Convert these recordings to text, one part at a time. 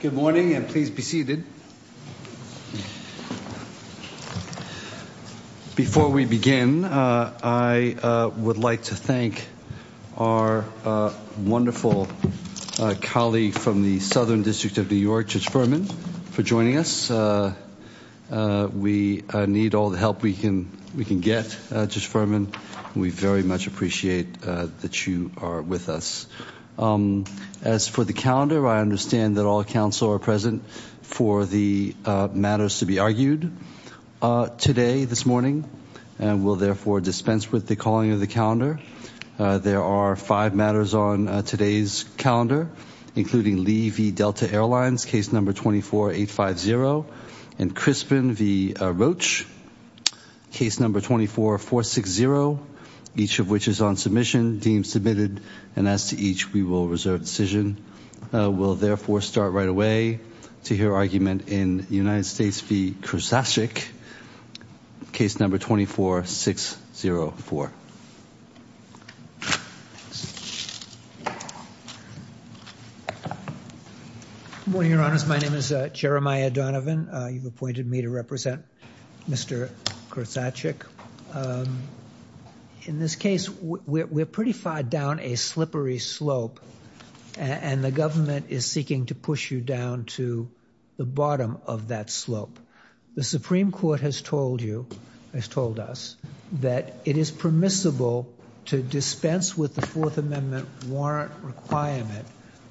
Good morning and please be seated. Before we begin, I would like to thank our wonderful colleague from the Southern District of New York, Judge Furman, for joining us. We need all the help we can get, Judge Furman. We very much appreciate that you are with us. As for the calendar, I understand that all counsel are present for the matters to be argued today, this morning, and will therefore dispense with the calling of the calendar. There are five matters on today's calendar, including Lee v. Delta Airlines, case number 24850, and Crispin v. Roach, case number 24460, each of which is on submission, deemed submitted, and as to each, we will reserve decision. We will therefore start right away to hear argument in United States v. Kurzajczyk, case number 24604. Good morning, Your Honors, my name is Jeremiah Donovan, you've appointed me to represent Mr. Kurzajczyk. In this case, we're pretty far down a slippery slope, and the government is seeking to push you down to the bottom of that slope. The Supreme Court has told you, has told us, that it is permissible to dispense with the Fourth Amendment warrant requirement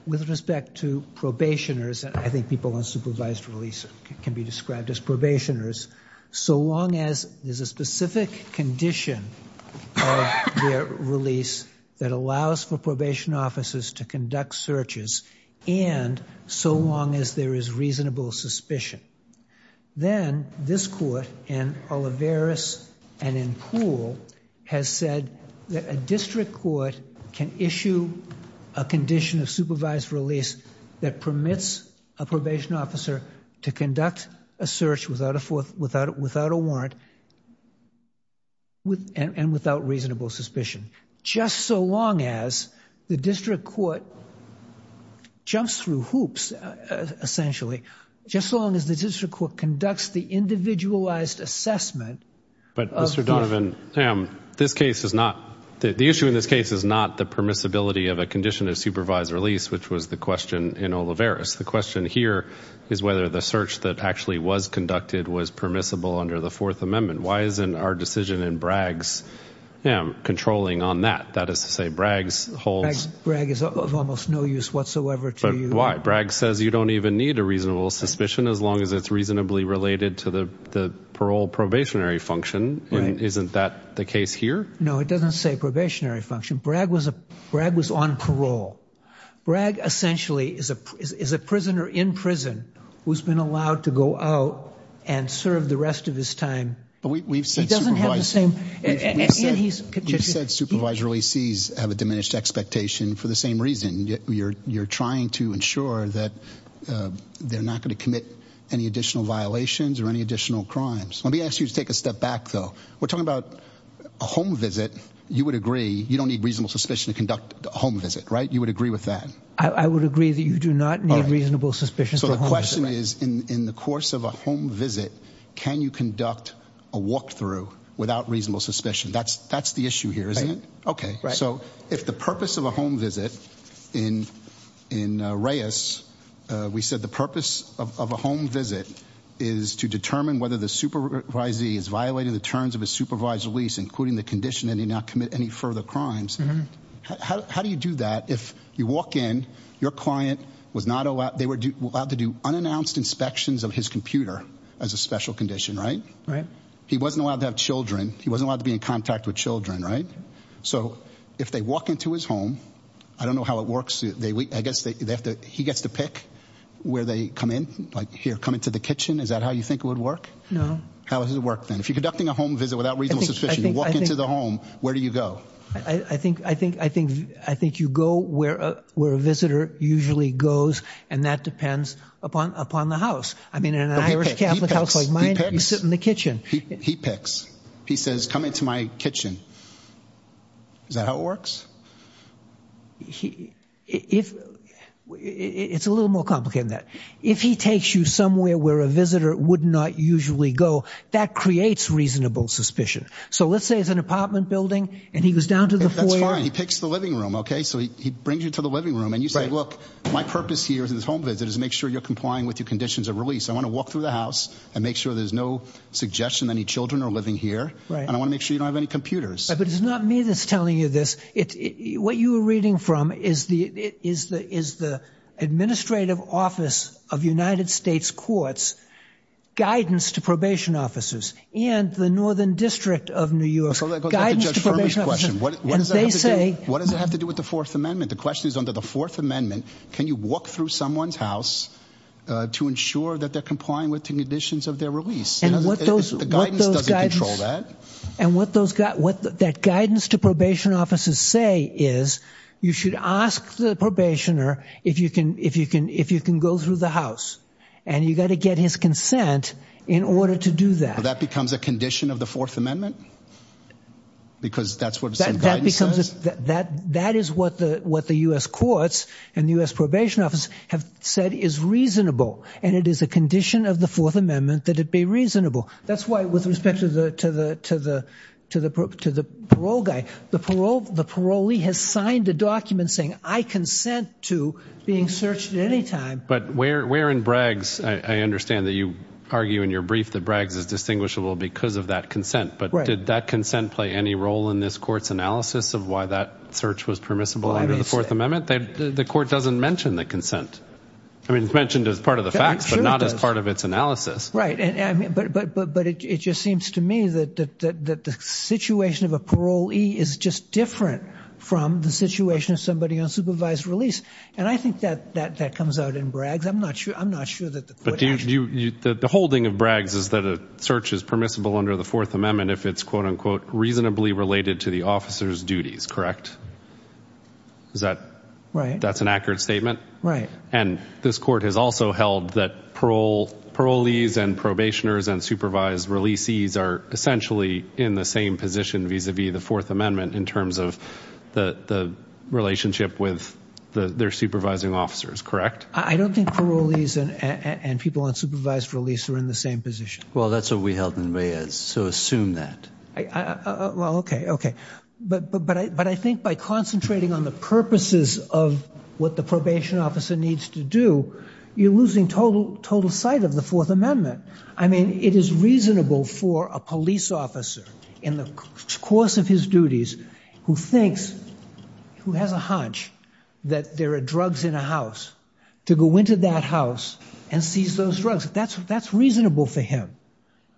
with respect to probationers, and I think people on supervised release can be described as probationers, so long as there's a specific condition of their release that allows for probation officers to conduct searches, and so long as there is reasonable suspicion. Then this Court, in Olivares and in Poole, has said that a district court can issue a condition of supervised release that permits a probation officer to conduct a search without a warrant and without reasonable suspicion, just so long as the district court jumps through hoops, essentially, just so long as the district court conducts the individualized assessment of... But, Mr. Donovan, this case is not, the issue in this case is not the permissibility of a condition of supervised release, which was the question in Olivares. The question here is whether the search that actually was conducted was permissible under the Fourth Amendment. Why isn't our decision in Braggs controlling on that? That is to say, Braggs holds... Braggs is of almost no use whatsoever to you. Why? Braggs says you don't even need a reasonable suspicion as long as it's reasonably related to the parole probationary function. Isn't that the case here? No, it doesn't say probationary function. Bragg was on parole. Bragg essentially is a prisoner in prison who's been allowed to go out and serve the rest of his time. We've said supervised releasees have a diminished expectation for the same reason. You're trying to ensure that they're not going to commit any additional violations or any additional crimes. Let me ask you to take a step back, though. We're talking about a home visit. You would agree you don't need reasonable suspicion to conduct a home visit, right? You would agree with that? I would agree that you do not need reasonable suspicions for a home visit. So the question is, in the course of a home visit, can you conduct a walkthrough without reasonable suspicion? That's the issue here, isn't it? Okay. So if the purpose of a home visit in Reyes, we said the purpose of a home visit is to determine whether the supervisee is violating the terms of his supervised release, including the condition that he not commit any further crimes. How do you do that if you walk in, your client was not allowed, they were allowed to do unannounced inspections of his computer as a special condition, right? He wasn't allowed to have children. He wasn't allowed to be in contact with children, right? So if they walk into his home, I don't know how it works, I guess he gets to pick where they come in, like here, come into the kitchen. Is that how you think it would work? No. How does it work then? If you're conducting a home visit without reasonable suspicion, you walk into the home, where do you go? I think you go where a visitor usually goes, and that depends upon the house. I mean, in an Irish Catholic house like mine, you sit in the kitchen. He picks. He says, come into my kitchen. Is that how it works? It's a little more complicated than that. If he takes you somewhere where a visitor would not usually go, that creates reasonable suspicion. So let's say it's an apartment building, and he goes down to the foyer. That's fine. He picks the living room, okay? So he brings you to the living room, and you say, look, my purpose here in this home visit is to make sure you're complying with your conditions of release. I want to walk through the house and make sure there's no suggestion that any children are living here, and I want to make sure you don't have any computers. But it's not me that's telling you this. What you are reading from is the administrative office of United States courts' guidance to probation officers and the Northern District of New York's guidance to probation officers. That's a Judge Furman's question. What does that have to do with the Fourth Amendment? The question is, under the Fourth Amendment, can you walk through someone's house to ensure that they're complying with the conditions of their release? The guidance doesn't control that. And what that guidance to probation officers say is, you should ask the probationer if you can go through the house. And you've got to get his consent in order to do that. That becomes a condition of the Fourth Amendment? Because that's what some guidance says? That is what the U.S. courts and the U.S. probation office have said is reasonable. And it is a condition of the Fourth Amendment that it be reasonable. That's why, with respect to the parole guy, the parolee has signed a document saying, I consent to being searched at any time. But where in Braggs, I understand that you argue in your brief that Braggs is distinguishable because of that consent. But did that consent play any role in this court's analysis of why that search was permissible under the Fourth Amendment? The court doesn't mention the consent. I mean, it's mentioned as part of the facts, but not as part of its analysis. But it just seems to me that the situation of a parolee is just different from the situation of somebody on supervised release. And I think that comes out in Braggs. I'm not sure that the court actually... The holding of Braggs is that a search is permissible under the Fourth Amendment if it's quote-unquote, reasonably related to the officer's duties, correct? Is that... Right. That's an accurate statement? And this court has also held that parolees and probationers and supervised releasees are essentially in the same position vis-a-vis the Fourth Amendment in terms of the relationship with their supervising officers, correct? I don't think parolees and people on supervised release are in the same position. Well, that's what we held in Reyes, so assume that. Well, okay, okay. But I think by concentrating on the purposes of what the probation officer needs to do, you're losing total sight of the Fourth Amendment. I mean, it is reasonable for a police officer in the course of his duties who thinks, who has a hunch that there are drugs in a house, to go into that house and seize those drugs. That's reasonable for him.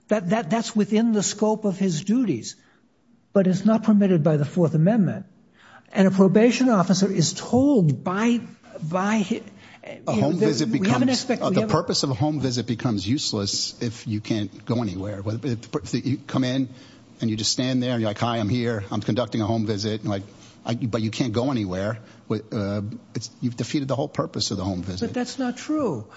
That's within the scope of his duties. But it's not permitted by the Fourth Amendment. And a probation officer is told by... A home visit becomes... We have an aspect... The purpose of a home visit becomes useless if you can't go anywhere. You come in and you just stand there and you're like, hi, I'm here, I'm conducting a home visit, but you can't go anywhere. You've defeated the whole purpose of the home visit. But that's not true.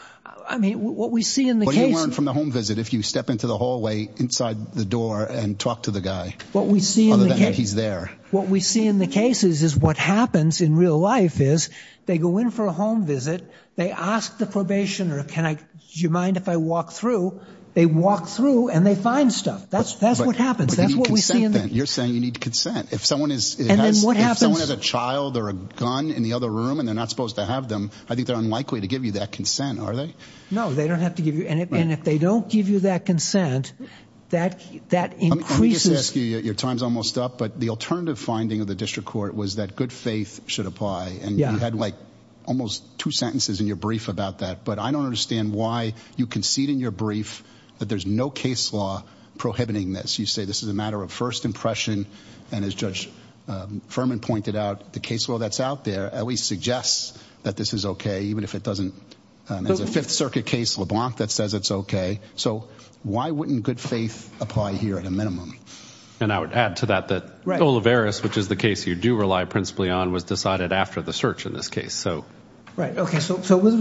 I mean, what we see in the case... What do you learn from the home visit if you step into the hallway inside the door and talk to the guy? What we see in the case... Other than that he's there. What we see in the cases is what happens in real life is, they go in for a home visit, they ask the probationer, do you mind if I walk through? They walk through and they find stuff. That's what happens. That's what we see in the... But they need consent then. You're saying you need consent. If someone is... And then what happens? If someone has a child or a gun in the other room and they're not supposed to have them, I think they're unlikely to give you that consent, are they? No, they don't have to give you... And if they don't give you that consent, that increases... Let me just ask you, your time's almost up, but the alternative finding of the district court was that good faith should apply. And you had like almost two sentences in your brief about that. But I don't understand why you concede in your brief that there's no case law prohibiting this. You say this is a matter of first impression. And as Judge Furman pointed out, the case law that's out there at least suggests that this is okay, even if it doesn't... There's a Fifth Circuit case, LeBlanc, that says it's okay. So why wouldn't good faith apply here at a minimum? And I would add to that that Olivares, which is the case you do rely principally on, was decided after the search in this case. So... Right. Okay. So with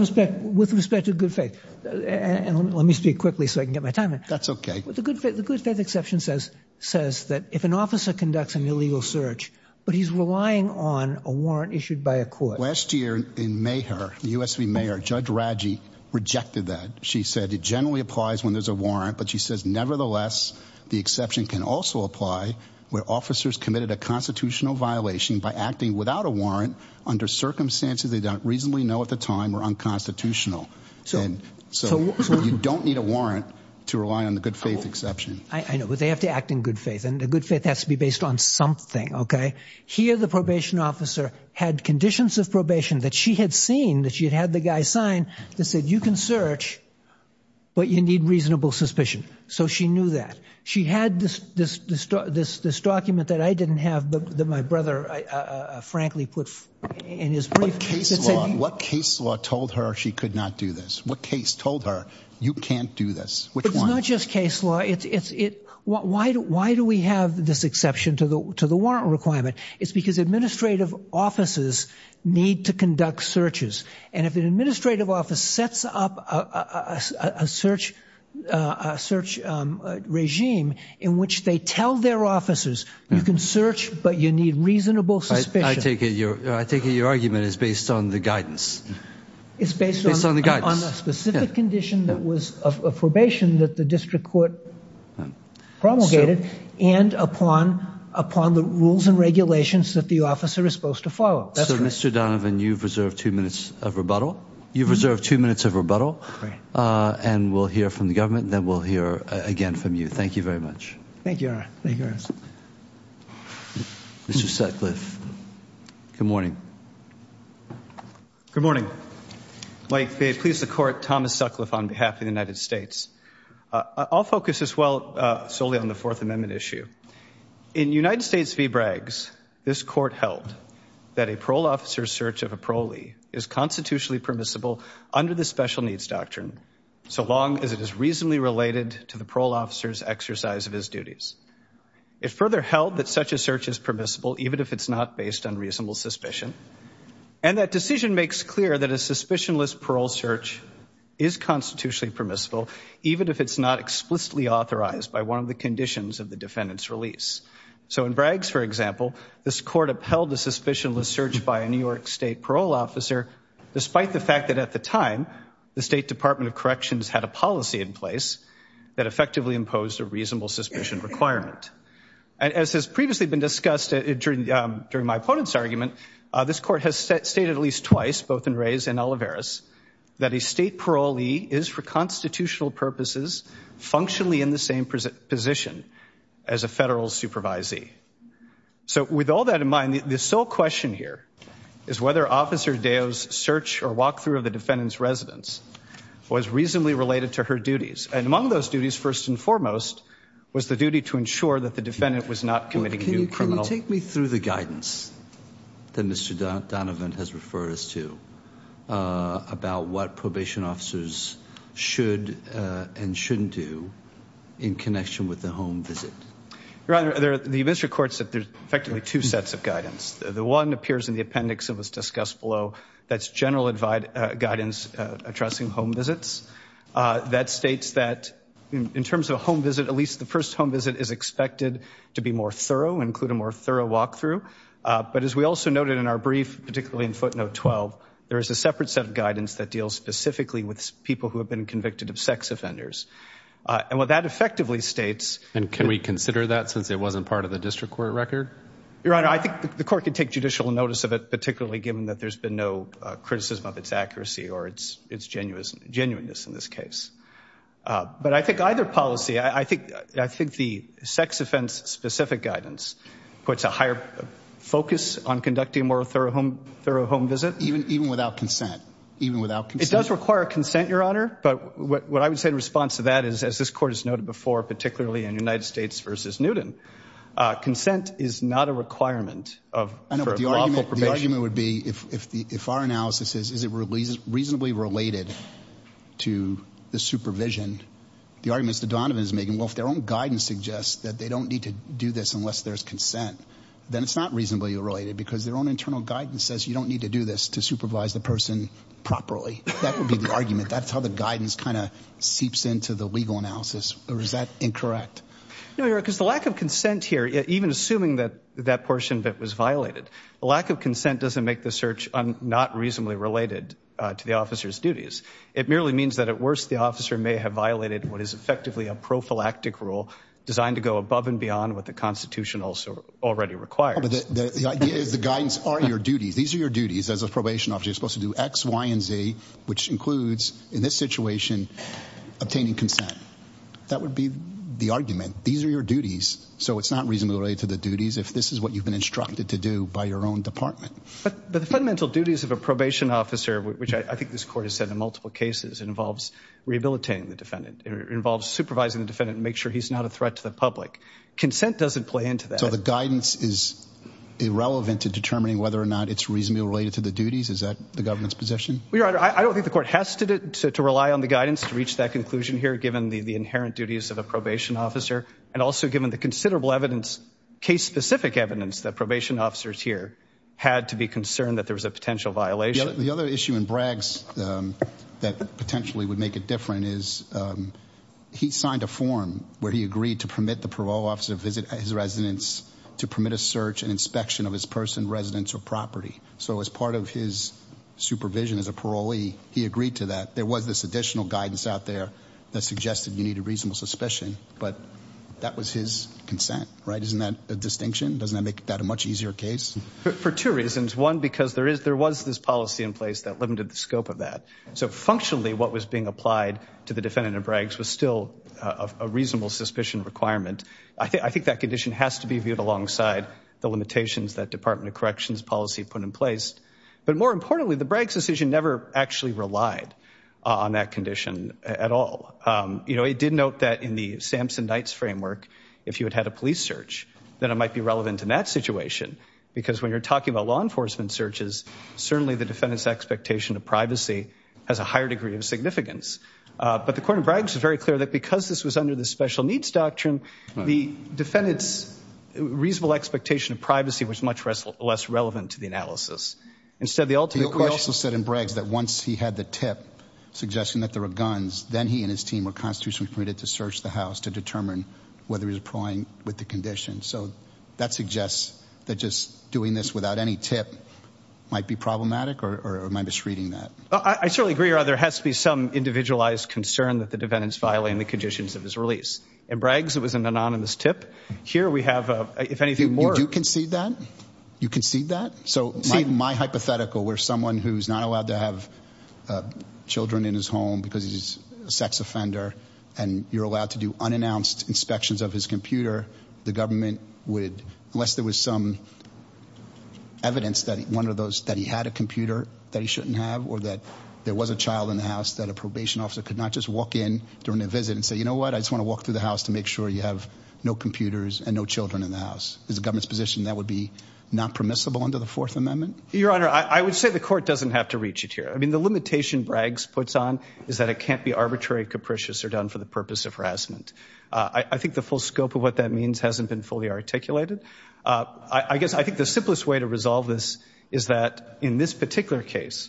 respect to good faith, and let me speak quickly so I can get my time in. That's okay. The good faith exception says that if an officer conducts an illegal search, but he's relying on a warrant issued by a court... Last year in Meagher, the USV Meagher, Judge Radji rejected that. She said it generally applies when there's a warrant, but she says nevertheless the exception can also apply where officers committed a constitutional violation by acting without a warrant under circumstances they don't reasonably know at the time were unconstitutional. So you don't need a warrant to rely on the good faith exception. I know. But they have to act in good faith. And the good faith has to be based on something, okay? Here the probation officer had conditions of probation that she had seen, that she had had the guy sign, that said you can search, but you need reasonable suspicion. So she knew that. She had this document that I didn't have, that my brother frankly put in his brief. What case law told her she could not do this? What case told her you can't do this? Which one? It's not just case law. Why do we have this exception to the warrant requirement? It's because administrative offices need to conduct searches. And if an administrative office sets up a search regime in which they tell their officers you can search, but you need reasonable suspicion. I take it your argument is based on the guidance. It's based on the guidance. It's based on a specific condition that was a probation that the district court promulgated and upon the rules and regulations that the officer is supposed to follow. So Mr. Donovan, you've reserved two minutes of rebuttal. You've reserved two minutes of rebuttal. And we'll hear from the government, then we'll hear again from you. Thank you very much. Thank you. Thank you. Mr. Sutcliffe. Good morning. Good morning. May it please the court, Thomas Sutcliffe on behalf of the United States. I'll focus as well solely on the Fourth Amendment issue. In United States v. Braggs, this court held that a parole officer's search of a parolee is constitutionally permissible under the Special Needs Doctrine so long as it is reasonably related to the parole officer's exercise of his duties. It further held that such a search is permissible even if it's not based on reasonable suspicion. And that decision makes clear that a suspicionless parole search is constitutionally permissible even if it's not explicitly authorized by one of the conditions of the defendant's release. So in Braggs, for example, this court upheld the suspicionless search by a New York State parole officer despite the fact that at the time, the State Department of Corrections had a policy in place that effectively imposed a reasonable suspicion requirement. As has previously been discussed during my opponent's argument, this court has stated at least twice, both in Reyes and Olivares, that a state parolee is for constitutional purposes functionally in the same position as a federal supervisee. So with all that in mind, the sole question here is whether Officer Deo's search or walkthrough of the defendant's residence was reasonably related to her duties. And among those duties, first and foremost, was the duty to ensure that the defendant was not committing new criminal- Can you take me through the guidance that Mr. Donovan has referred us to about what probation officers should and shouldn't do in connection with the home visit? Your Honor, the administrative court said there's effectively two sets of guidance. The one appears in the appendix that was discussed below. That's general guidance addressing home visits. That states that in terms of a home visit, at least the first home visit is expected to be more thorough, include a more thorough walkthrough. But as we also noted in our brief, particularly in footnote 12, there is a separate set of guidance that deals specifically with people who have been convicted of sex offenders. And what that effectively states- And can we consider that since it wasn't part of the district court record? Your Honor, I think the court could take judicial notice of it, particularly given that there's been no criticism of its accuracy or its genuineness in this case. But I think either policy, I think the sex offense specific guidance puts a higher focus on conducting a more thorough home visit. Even without consent? Even without consent? It does require consent, Your Honor. But what I would say in response to that is, as this court has noted before, particularly in United States v. Newton, consent is not a requirement for lawful probation. The argument would be, if our analysis is, is it reasonably related to the supervision, the arguments that Donovan is making, well, if their own guidance suggests that they don't need to do this unless there's consent, then it's not reasonably related because their own internal guidance says you don't need to do this to supervise the person properly. That would be the argument. That's how the guidance kind of seeps into the legal analysis. Or is that incorrect? No, Your Honor, because the lack of consent here, even assuming that that portion of it was violated, the lack of consent doesn't make the search not reasonably related to the officer's duties. It merely means that at worst, the officer may have violated what is effectively a prophylactic rule designed to go above and beyond what the Constitution also already requires. The idea is the guidance are your duties. These are your duties as a probation officer. You're supposed to do X, Y, and Z, which includes, in this situation, obtaining consent. That would be the argument. These are your duties. So it's not reasonably related to the duties if this is what you've been instructed to do by your own department. But the fundamental duties of a probation officer, which I think this court has said in multiple cases, involves rehabilitating the defendant. It involves supervising the defendant and make sure he's not a threat to the public. Consent doesn't play into that. So the guidance is irrelevant to determining whether or not it's reasonably related to the duties? Is that the government's position? Well, Your Honor, I don't think the court has to rely on the guidance to reach that conclusion here, given the inherent duties of a probation officer, and also given the considerable evidence, case-specific evidence, that probation officers here had to be concerned that there was a potential violation. The other issue in Bragg's that potentially would make it different is he signed a form where he agreed to permit the parole officer to visit his residence, to permit a search and inspection of his person, residence, or property. So as part of his supervision as a parolee, he agreed to that. There was this additional guidance out there that suggested you need a reasonable suspicion, but that was his consent, right? Isn't that a distinction? Doesn't that make that a much easier case? For two reasons. One, because there was this policy in place that limited the scope of that. So functionally, what was being applied to the defendant in Bragg's was still a reasonable suspicion requirement. I think that condition has to be viewed alongside the limitations that Department of Corrections policy put in place. But more importantly, the Bragg's decision never actually relied on that condition at all. It did note that in the Sampson-Knights framework, if you had had a police search, then it might be relevant in that situation. Because when you're talking about law enforcement searches, certainly the defendant's expectation of privacy has a higher degree of significance. But the Court of Bragg's is very clear that because this was under the special needs doctrine, the defendant's reasonable expectation of privacy was much less relevant to the analysis. Instead, the ultimate question- We also said in Bragg's that once he had the tip suggesting that there were guns, then he and his team were constitutionally permitted to search the house to determine whether he was plying with the condition. So that suggests that just doing this without any tip might be problematic or am I misreading that? I certainly agree, Your Honor. There has to be some individualized concern that the defendant's violating the conditions of his release. In Bragg's, it was an anonymous tip. Here we have, if anything more- You do concede that? You concede that? So my hypothetical where someone who's not allowed to have children in his home because he's a sex offender and you're allowed to do unannounced inspections of his computer, the government would, unless there was some evidence that one of those, that he had a computer that he shouldn't have or that there was a child in the house that a probation officer could not just walk in during a visit and say, you know what, I just want to walk through the house to make sure you have no computers and no children in the house. Is the government's position that would be not permissible under the Fourth Amendment? Your Honor, I would say the court doesn't have to reach it here. I mean, the limitation Bragg's puts on is that it can't be arbitrary, capricious or done for the purpose of harassment. I think the full scope of what that means hasn't been fully articulated. I guess I think the simplest way to resolve this is that in this particular case,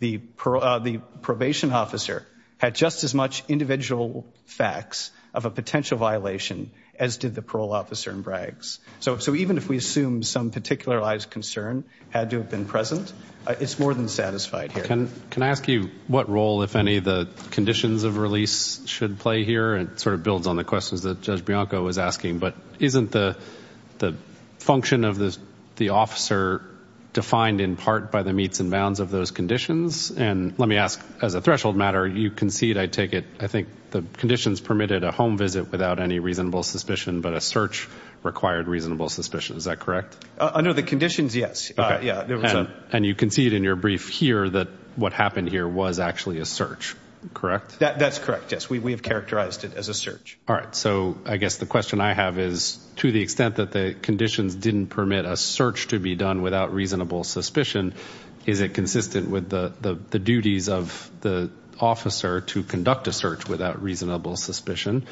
the probation officer had just as much individual facts of a potential violation as did the parole officer in Bragg's. So even if we assume some particularized concern had to have been present, it's more than satisfied here. Can I ask you what role, if any, the conditions of release should play here? And it sort of builds on the questions that Judge Bianco was asking, but isn't the function of the officer defined in part by the meets and bounds of those conditions? And let me ask, as a threshold matter, you concede, I take it, I think the conditions permitted a home visit without any reasonable suspicion, but a search required reasonable suspicion. Is that correct? Under the conditions, yes. And you concede in your brief here that what happened here was actually a search, correct? That's correct. Yes, we have characterized it as a search. All right. So I guess the question I have is, to the extent that the conditions didn't permit a search to be done without reasonable suspicion, is it consistent with the duties of the officer to conduct a search without reasonable suspicion?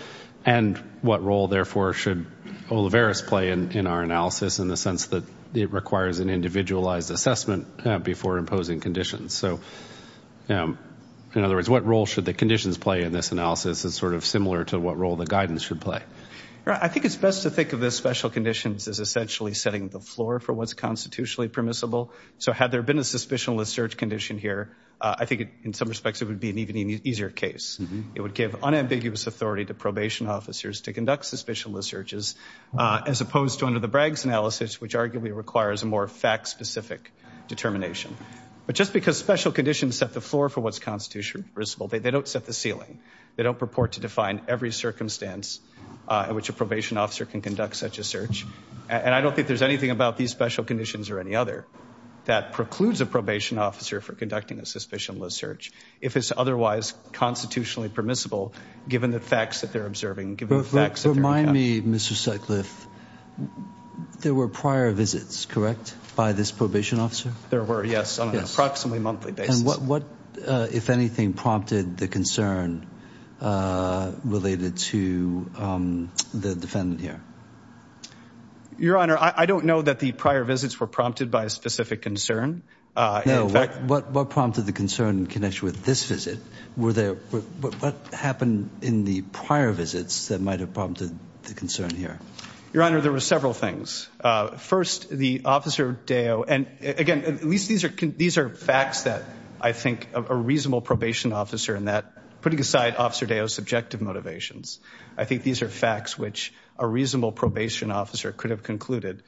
And what role, therefore, should Oliveris play in our analysis in the sense that it requires an individualized assessment before imposing conditions? So in other words, what role should the conditions play in this analysis is sort of similar to what role the guidance should play? I think it's best to think of the special conditions as essentially setting the floor for what's constitutionally permissible. So had there been a suspicionless search condition here, I think in some respects it would be an even easier case. It would give unambiguous authority to probation officers to conduct suspicionless searches as opposed to under the Bragg's analysis, which arguably requires a more fact-specific determination. But just because special conditions set the floor for what's constitutionally permissible, they don't set the ceiling. They don't purport to define every circumstance in which a probation officer can conduct such a search. And I don't think there's anything about these special conditions or any other that precludes a probation officer from conducting a suspicionless search. If it's otherwise constitutionally permissible, given the facts that they're observing. Remind me, Mr. Sutcliffe, there were prior visits, correct? By this probation officer? There were, yes, on an approximately monthly basis. And what, if anything, prompted the concern related to the defendant here? Your Honor, I don't know that the prior visits were prompted by a specific concern. No, what prompted the concern in connection with this visit? Were there, what happened in the prior visits that might have prompted the concern here? Your Honor, there were several things. First, the Officer Deo, and again, at least these are facts that I think of a reasonable probation officer and that, putting aside Officer Deo's subjective motivations, I think these are facts which a reasonable probation officer could have concluded,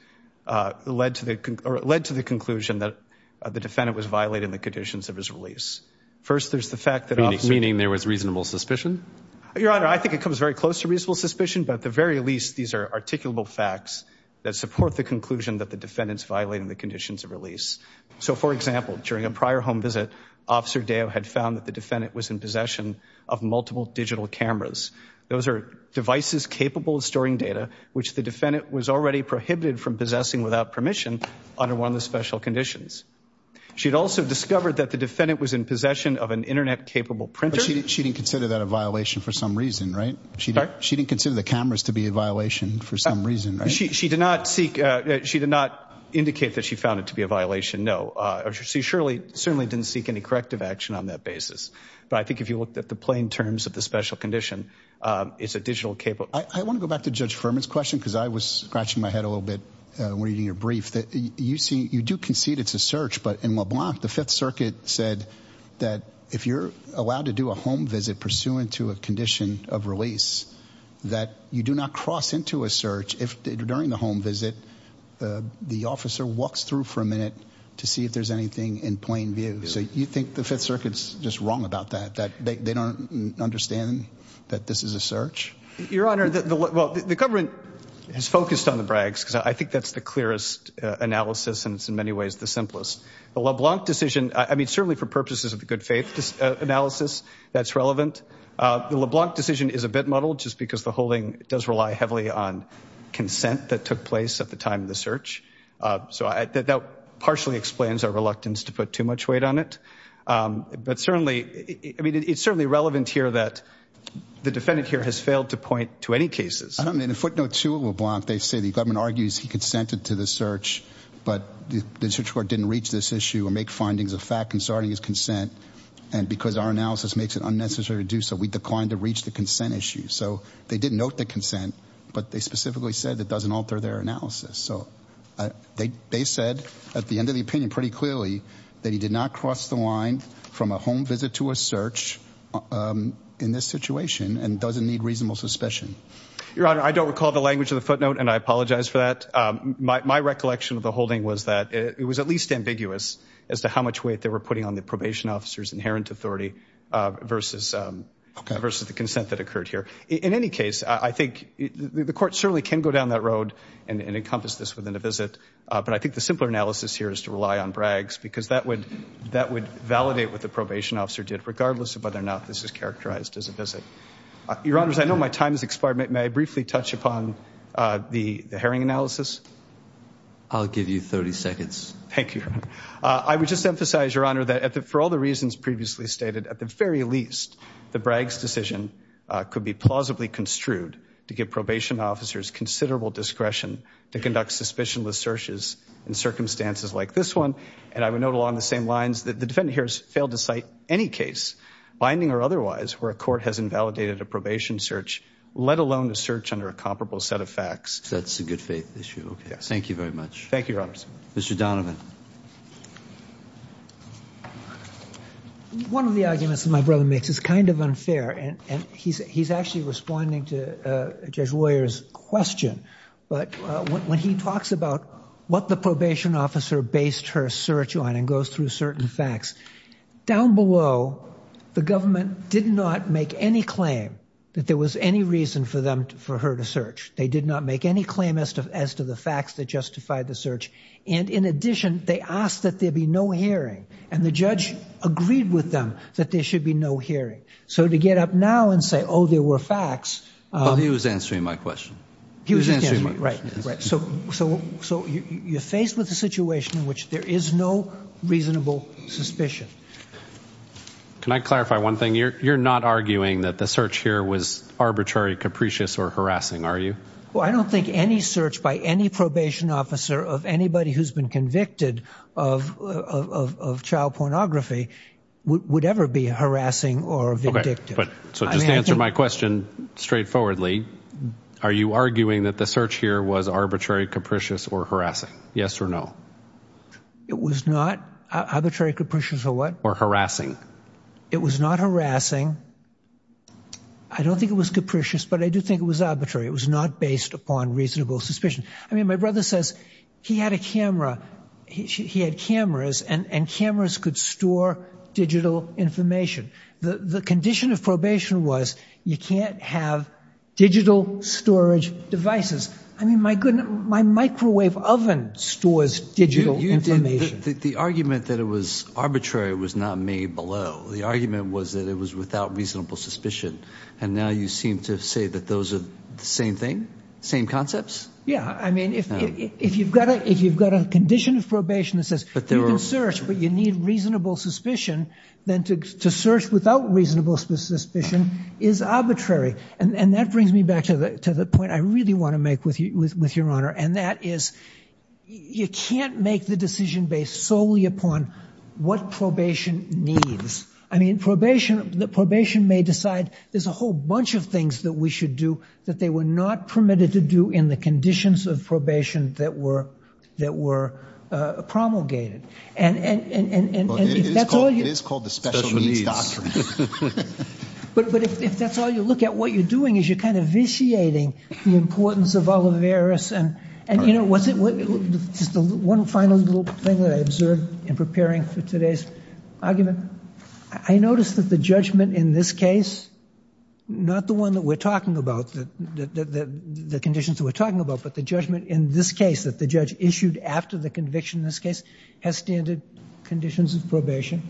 led to the conclusion that the defendant was violating the conditions of his release. First, there's the fact that... Meaning there was reasonable suspicion? Your Honor, I think it comes very close to reasonable suspicion, but at the very least, these are articulable facts that support the conclusion that the defendant's violating the conditions of release. So, for example, during a prior home visit, Officer Deo had found that the defendant was in possession of multiple digital cameras. Those are devices capable of storing data, which the defendant was already prohibited from possessing without permission under one of the special conditions. She had also discovered that the defendant was in possession of an internet-capable printer. She didn't consider that a violation for some reason, right? She didn't consider the cameras to be a violation for some reason, right? She did not seek... She did not indicate that she found it to be a violation, no. She certainly didn't seek any corrective action on that basis, but I think if you looked at the plain terms of the special condition, it's a digital capable... I want to go back to Judge Furman's question, because I was scratching my head a little reading your brief. You do concede it's a search, but in LeBlanc, the Fifth Circuit said that if you're allowed to do a home visit pursuant to a condition of release, that you do not cross into a search if, during the home visit, the officer walks through for a minute to see if there's anything in plain view. So you think the Fifth Circuit's just wrong about that, that they don't understand that this is a search? Your Honor, the government has focused on the brags, because I think that's the clearest analysis, and it's in many ways the simplest. The LeBlanc decision, I mean, certainly for purposes of the good faith analysis, that's relevant. The LeBlanc decision is a bit muddled, just because the holding does rely heavily on consent that took place at the time of the search. So that partially explains our reluctance to put too much weight on it. But certainly, I mean, it's certainly relevant here that the defendant here has failed to point to any cases. I mean, in footnote two of LeBlanc, they say the government argues he consented to the search, but the search court didn't reach this issue or make findings of fact concerning his consent. And because our analysis makes it unnecessary to do so, we declined to reach the consent issue. So they didn't note the consent, but they specifically said that doesn't alter their analysis. So they said at the end of the opinion pretty clearly that he did not cross the line from a home visit to a search in this situation and doesn't need reasonable suspicion. Your Honor, I don't recall the language of the footnote, and I apologize for that. My recollection of the holding was that it was at least ambiguous as to how much weight they were putting on the probation officer's inherent authority versus the consent that occurred here. In any case, I think the court certainly can go down that road and encompass this within a visit. But I think the simpler analysis here is to rely on Bragg's because that would validate what the probation officer did, regardless of whether or not this is characterized as a visit. Your Honors, I know my time has expired. May I briefly touch upon the Herring analysis? I'll give you 30 seconds. Thank you. I would just emphasize, Your Honor, that for all the reasons previously stated, at the least, the Bragg's decision could be plausibly construed to give probation officers considerable discretion to conduct suspicionless searches in circumstances like this one. And I would note along the same lines that the defendant here has failed to cite any case, binding or otherwise, where a court has invalidated a probation search, let alone a search under a comparable set of facts. That's a good faith issue. Okay. Thank you very much. Thank you, Your Honors. Mr. Donovan. One of the arguments that my brother makes is kind of unfair, and he's actually responding to Judge Woyer's question. But when he talks about what the probation officer based her search on and goes through certain facts, down below, the government did not make any claim that there was any reason for her to search. They did not make any claim as to the facts that justified the search. And in addition, they asked that there be no hearing. And the judge agreed with them that there should be no hearing. So to get up now and say, oh, there were facts. Well, he was answering my question. He was answering my question. Right, right. So you're faced with a situation in which there is no reasonable suspicion. Can I clarify one thing? You're not arguing that the search here was arbitrary, capricious, or harassing, are you? Well, I don't think any search by any probation officer of anybody who's been convicted of child pornography would ever be harassing or vindictive. But so just to answer my question straightforwardly, are you arguing that the search here was arbitrary, capricious, or harassing? Yes or no? It was not arbitrary, capricious, or what? Or harassing. It was not harassing. I don't think it was capricious, but I do think it was arbitrary. It was not based upon reasonable suspicion. I mean, my brother says he had a camera, he had cameras, and cameras could store digital information. The condition of probation was you can't have digital storage devices. I mean, my microwave oven stores digital information. The argument that it was arbitrary was not made below. The argument was that it was without reasonable suspicion. And now you seem to say that those are the same thing? Same concepts? I mean, if you've got a condition of probation that says you can search, but you need reasonable suspicion, then to search without reasonable suspicion is arbitrary. And that brings me back to the point I really want to make with your honor, and that is you can't make the decision based solely upon what probation needs. I mean, probation may decide there's a whole bunch of things that we should do that they were not permitted to do in the conditions of probation that were promulgated. It is called the special needs doctrine. But if that's all you look at, what you're doing is you're kind of vitiating the importance of Oliverus. And just one final little thing that I observed in preparing for today's argument. I noticed that the judgment in this case, not the one that we're talking about, the conditions that we're talking about, but the judgment in this case that the judge issued after the conviction in this case has standard conditions of probation.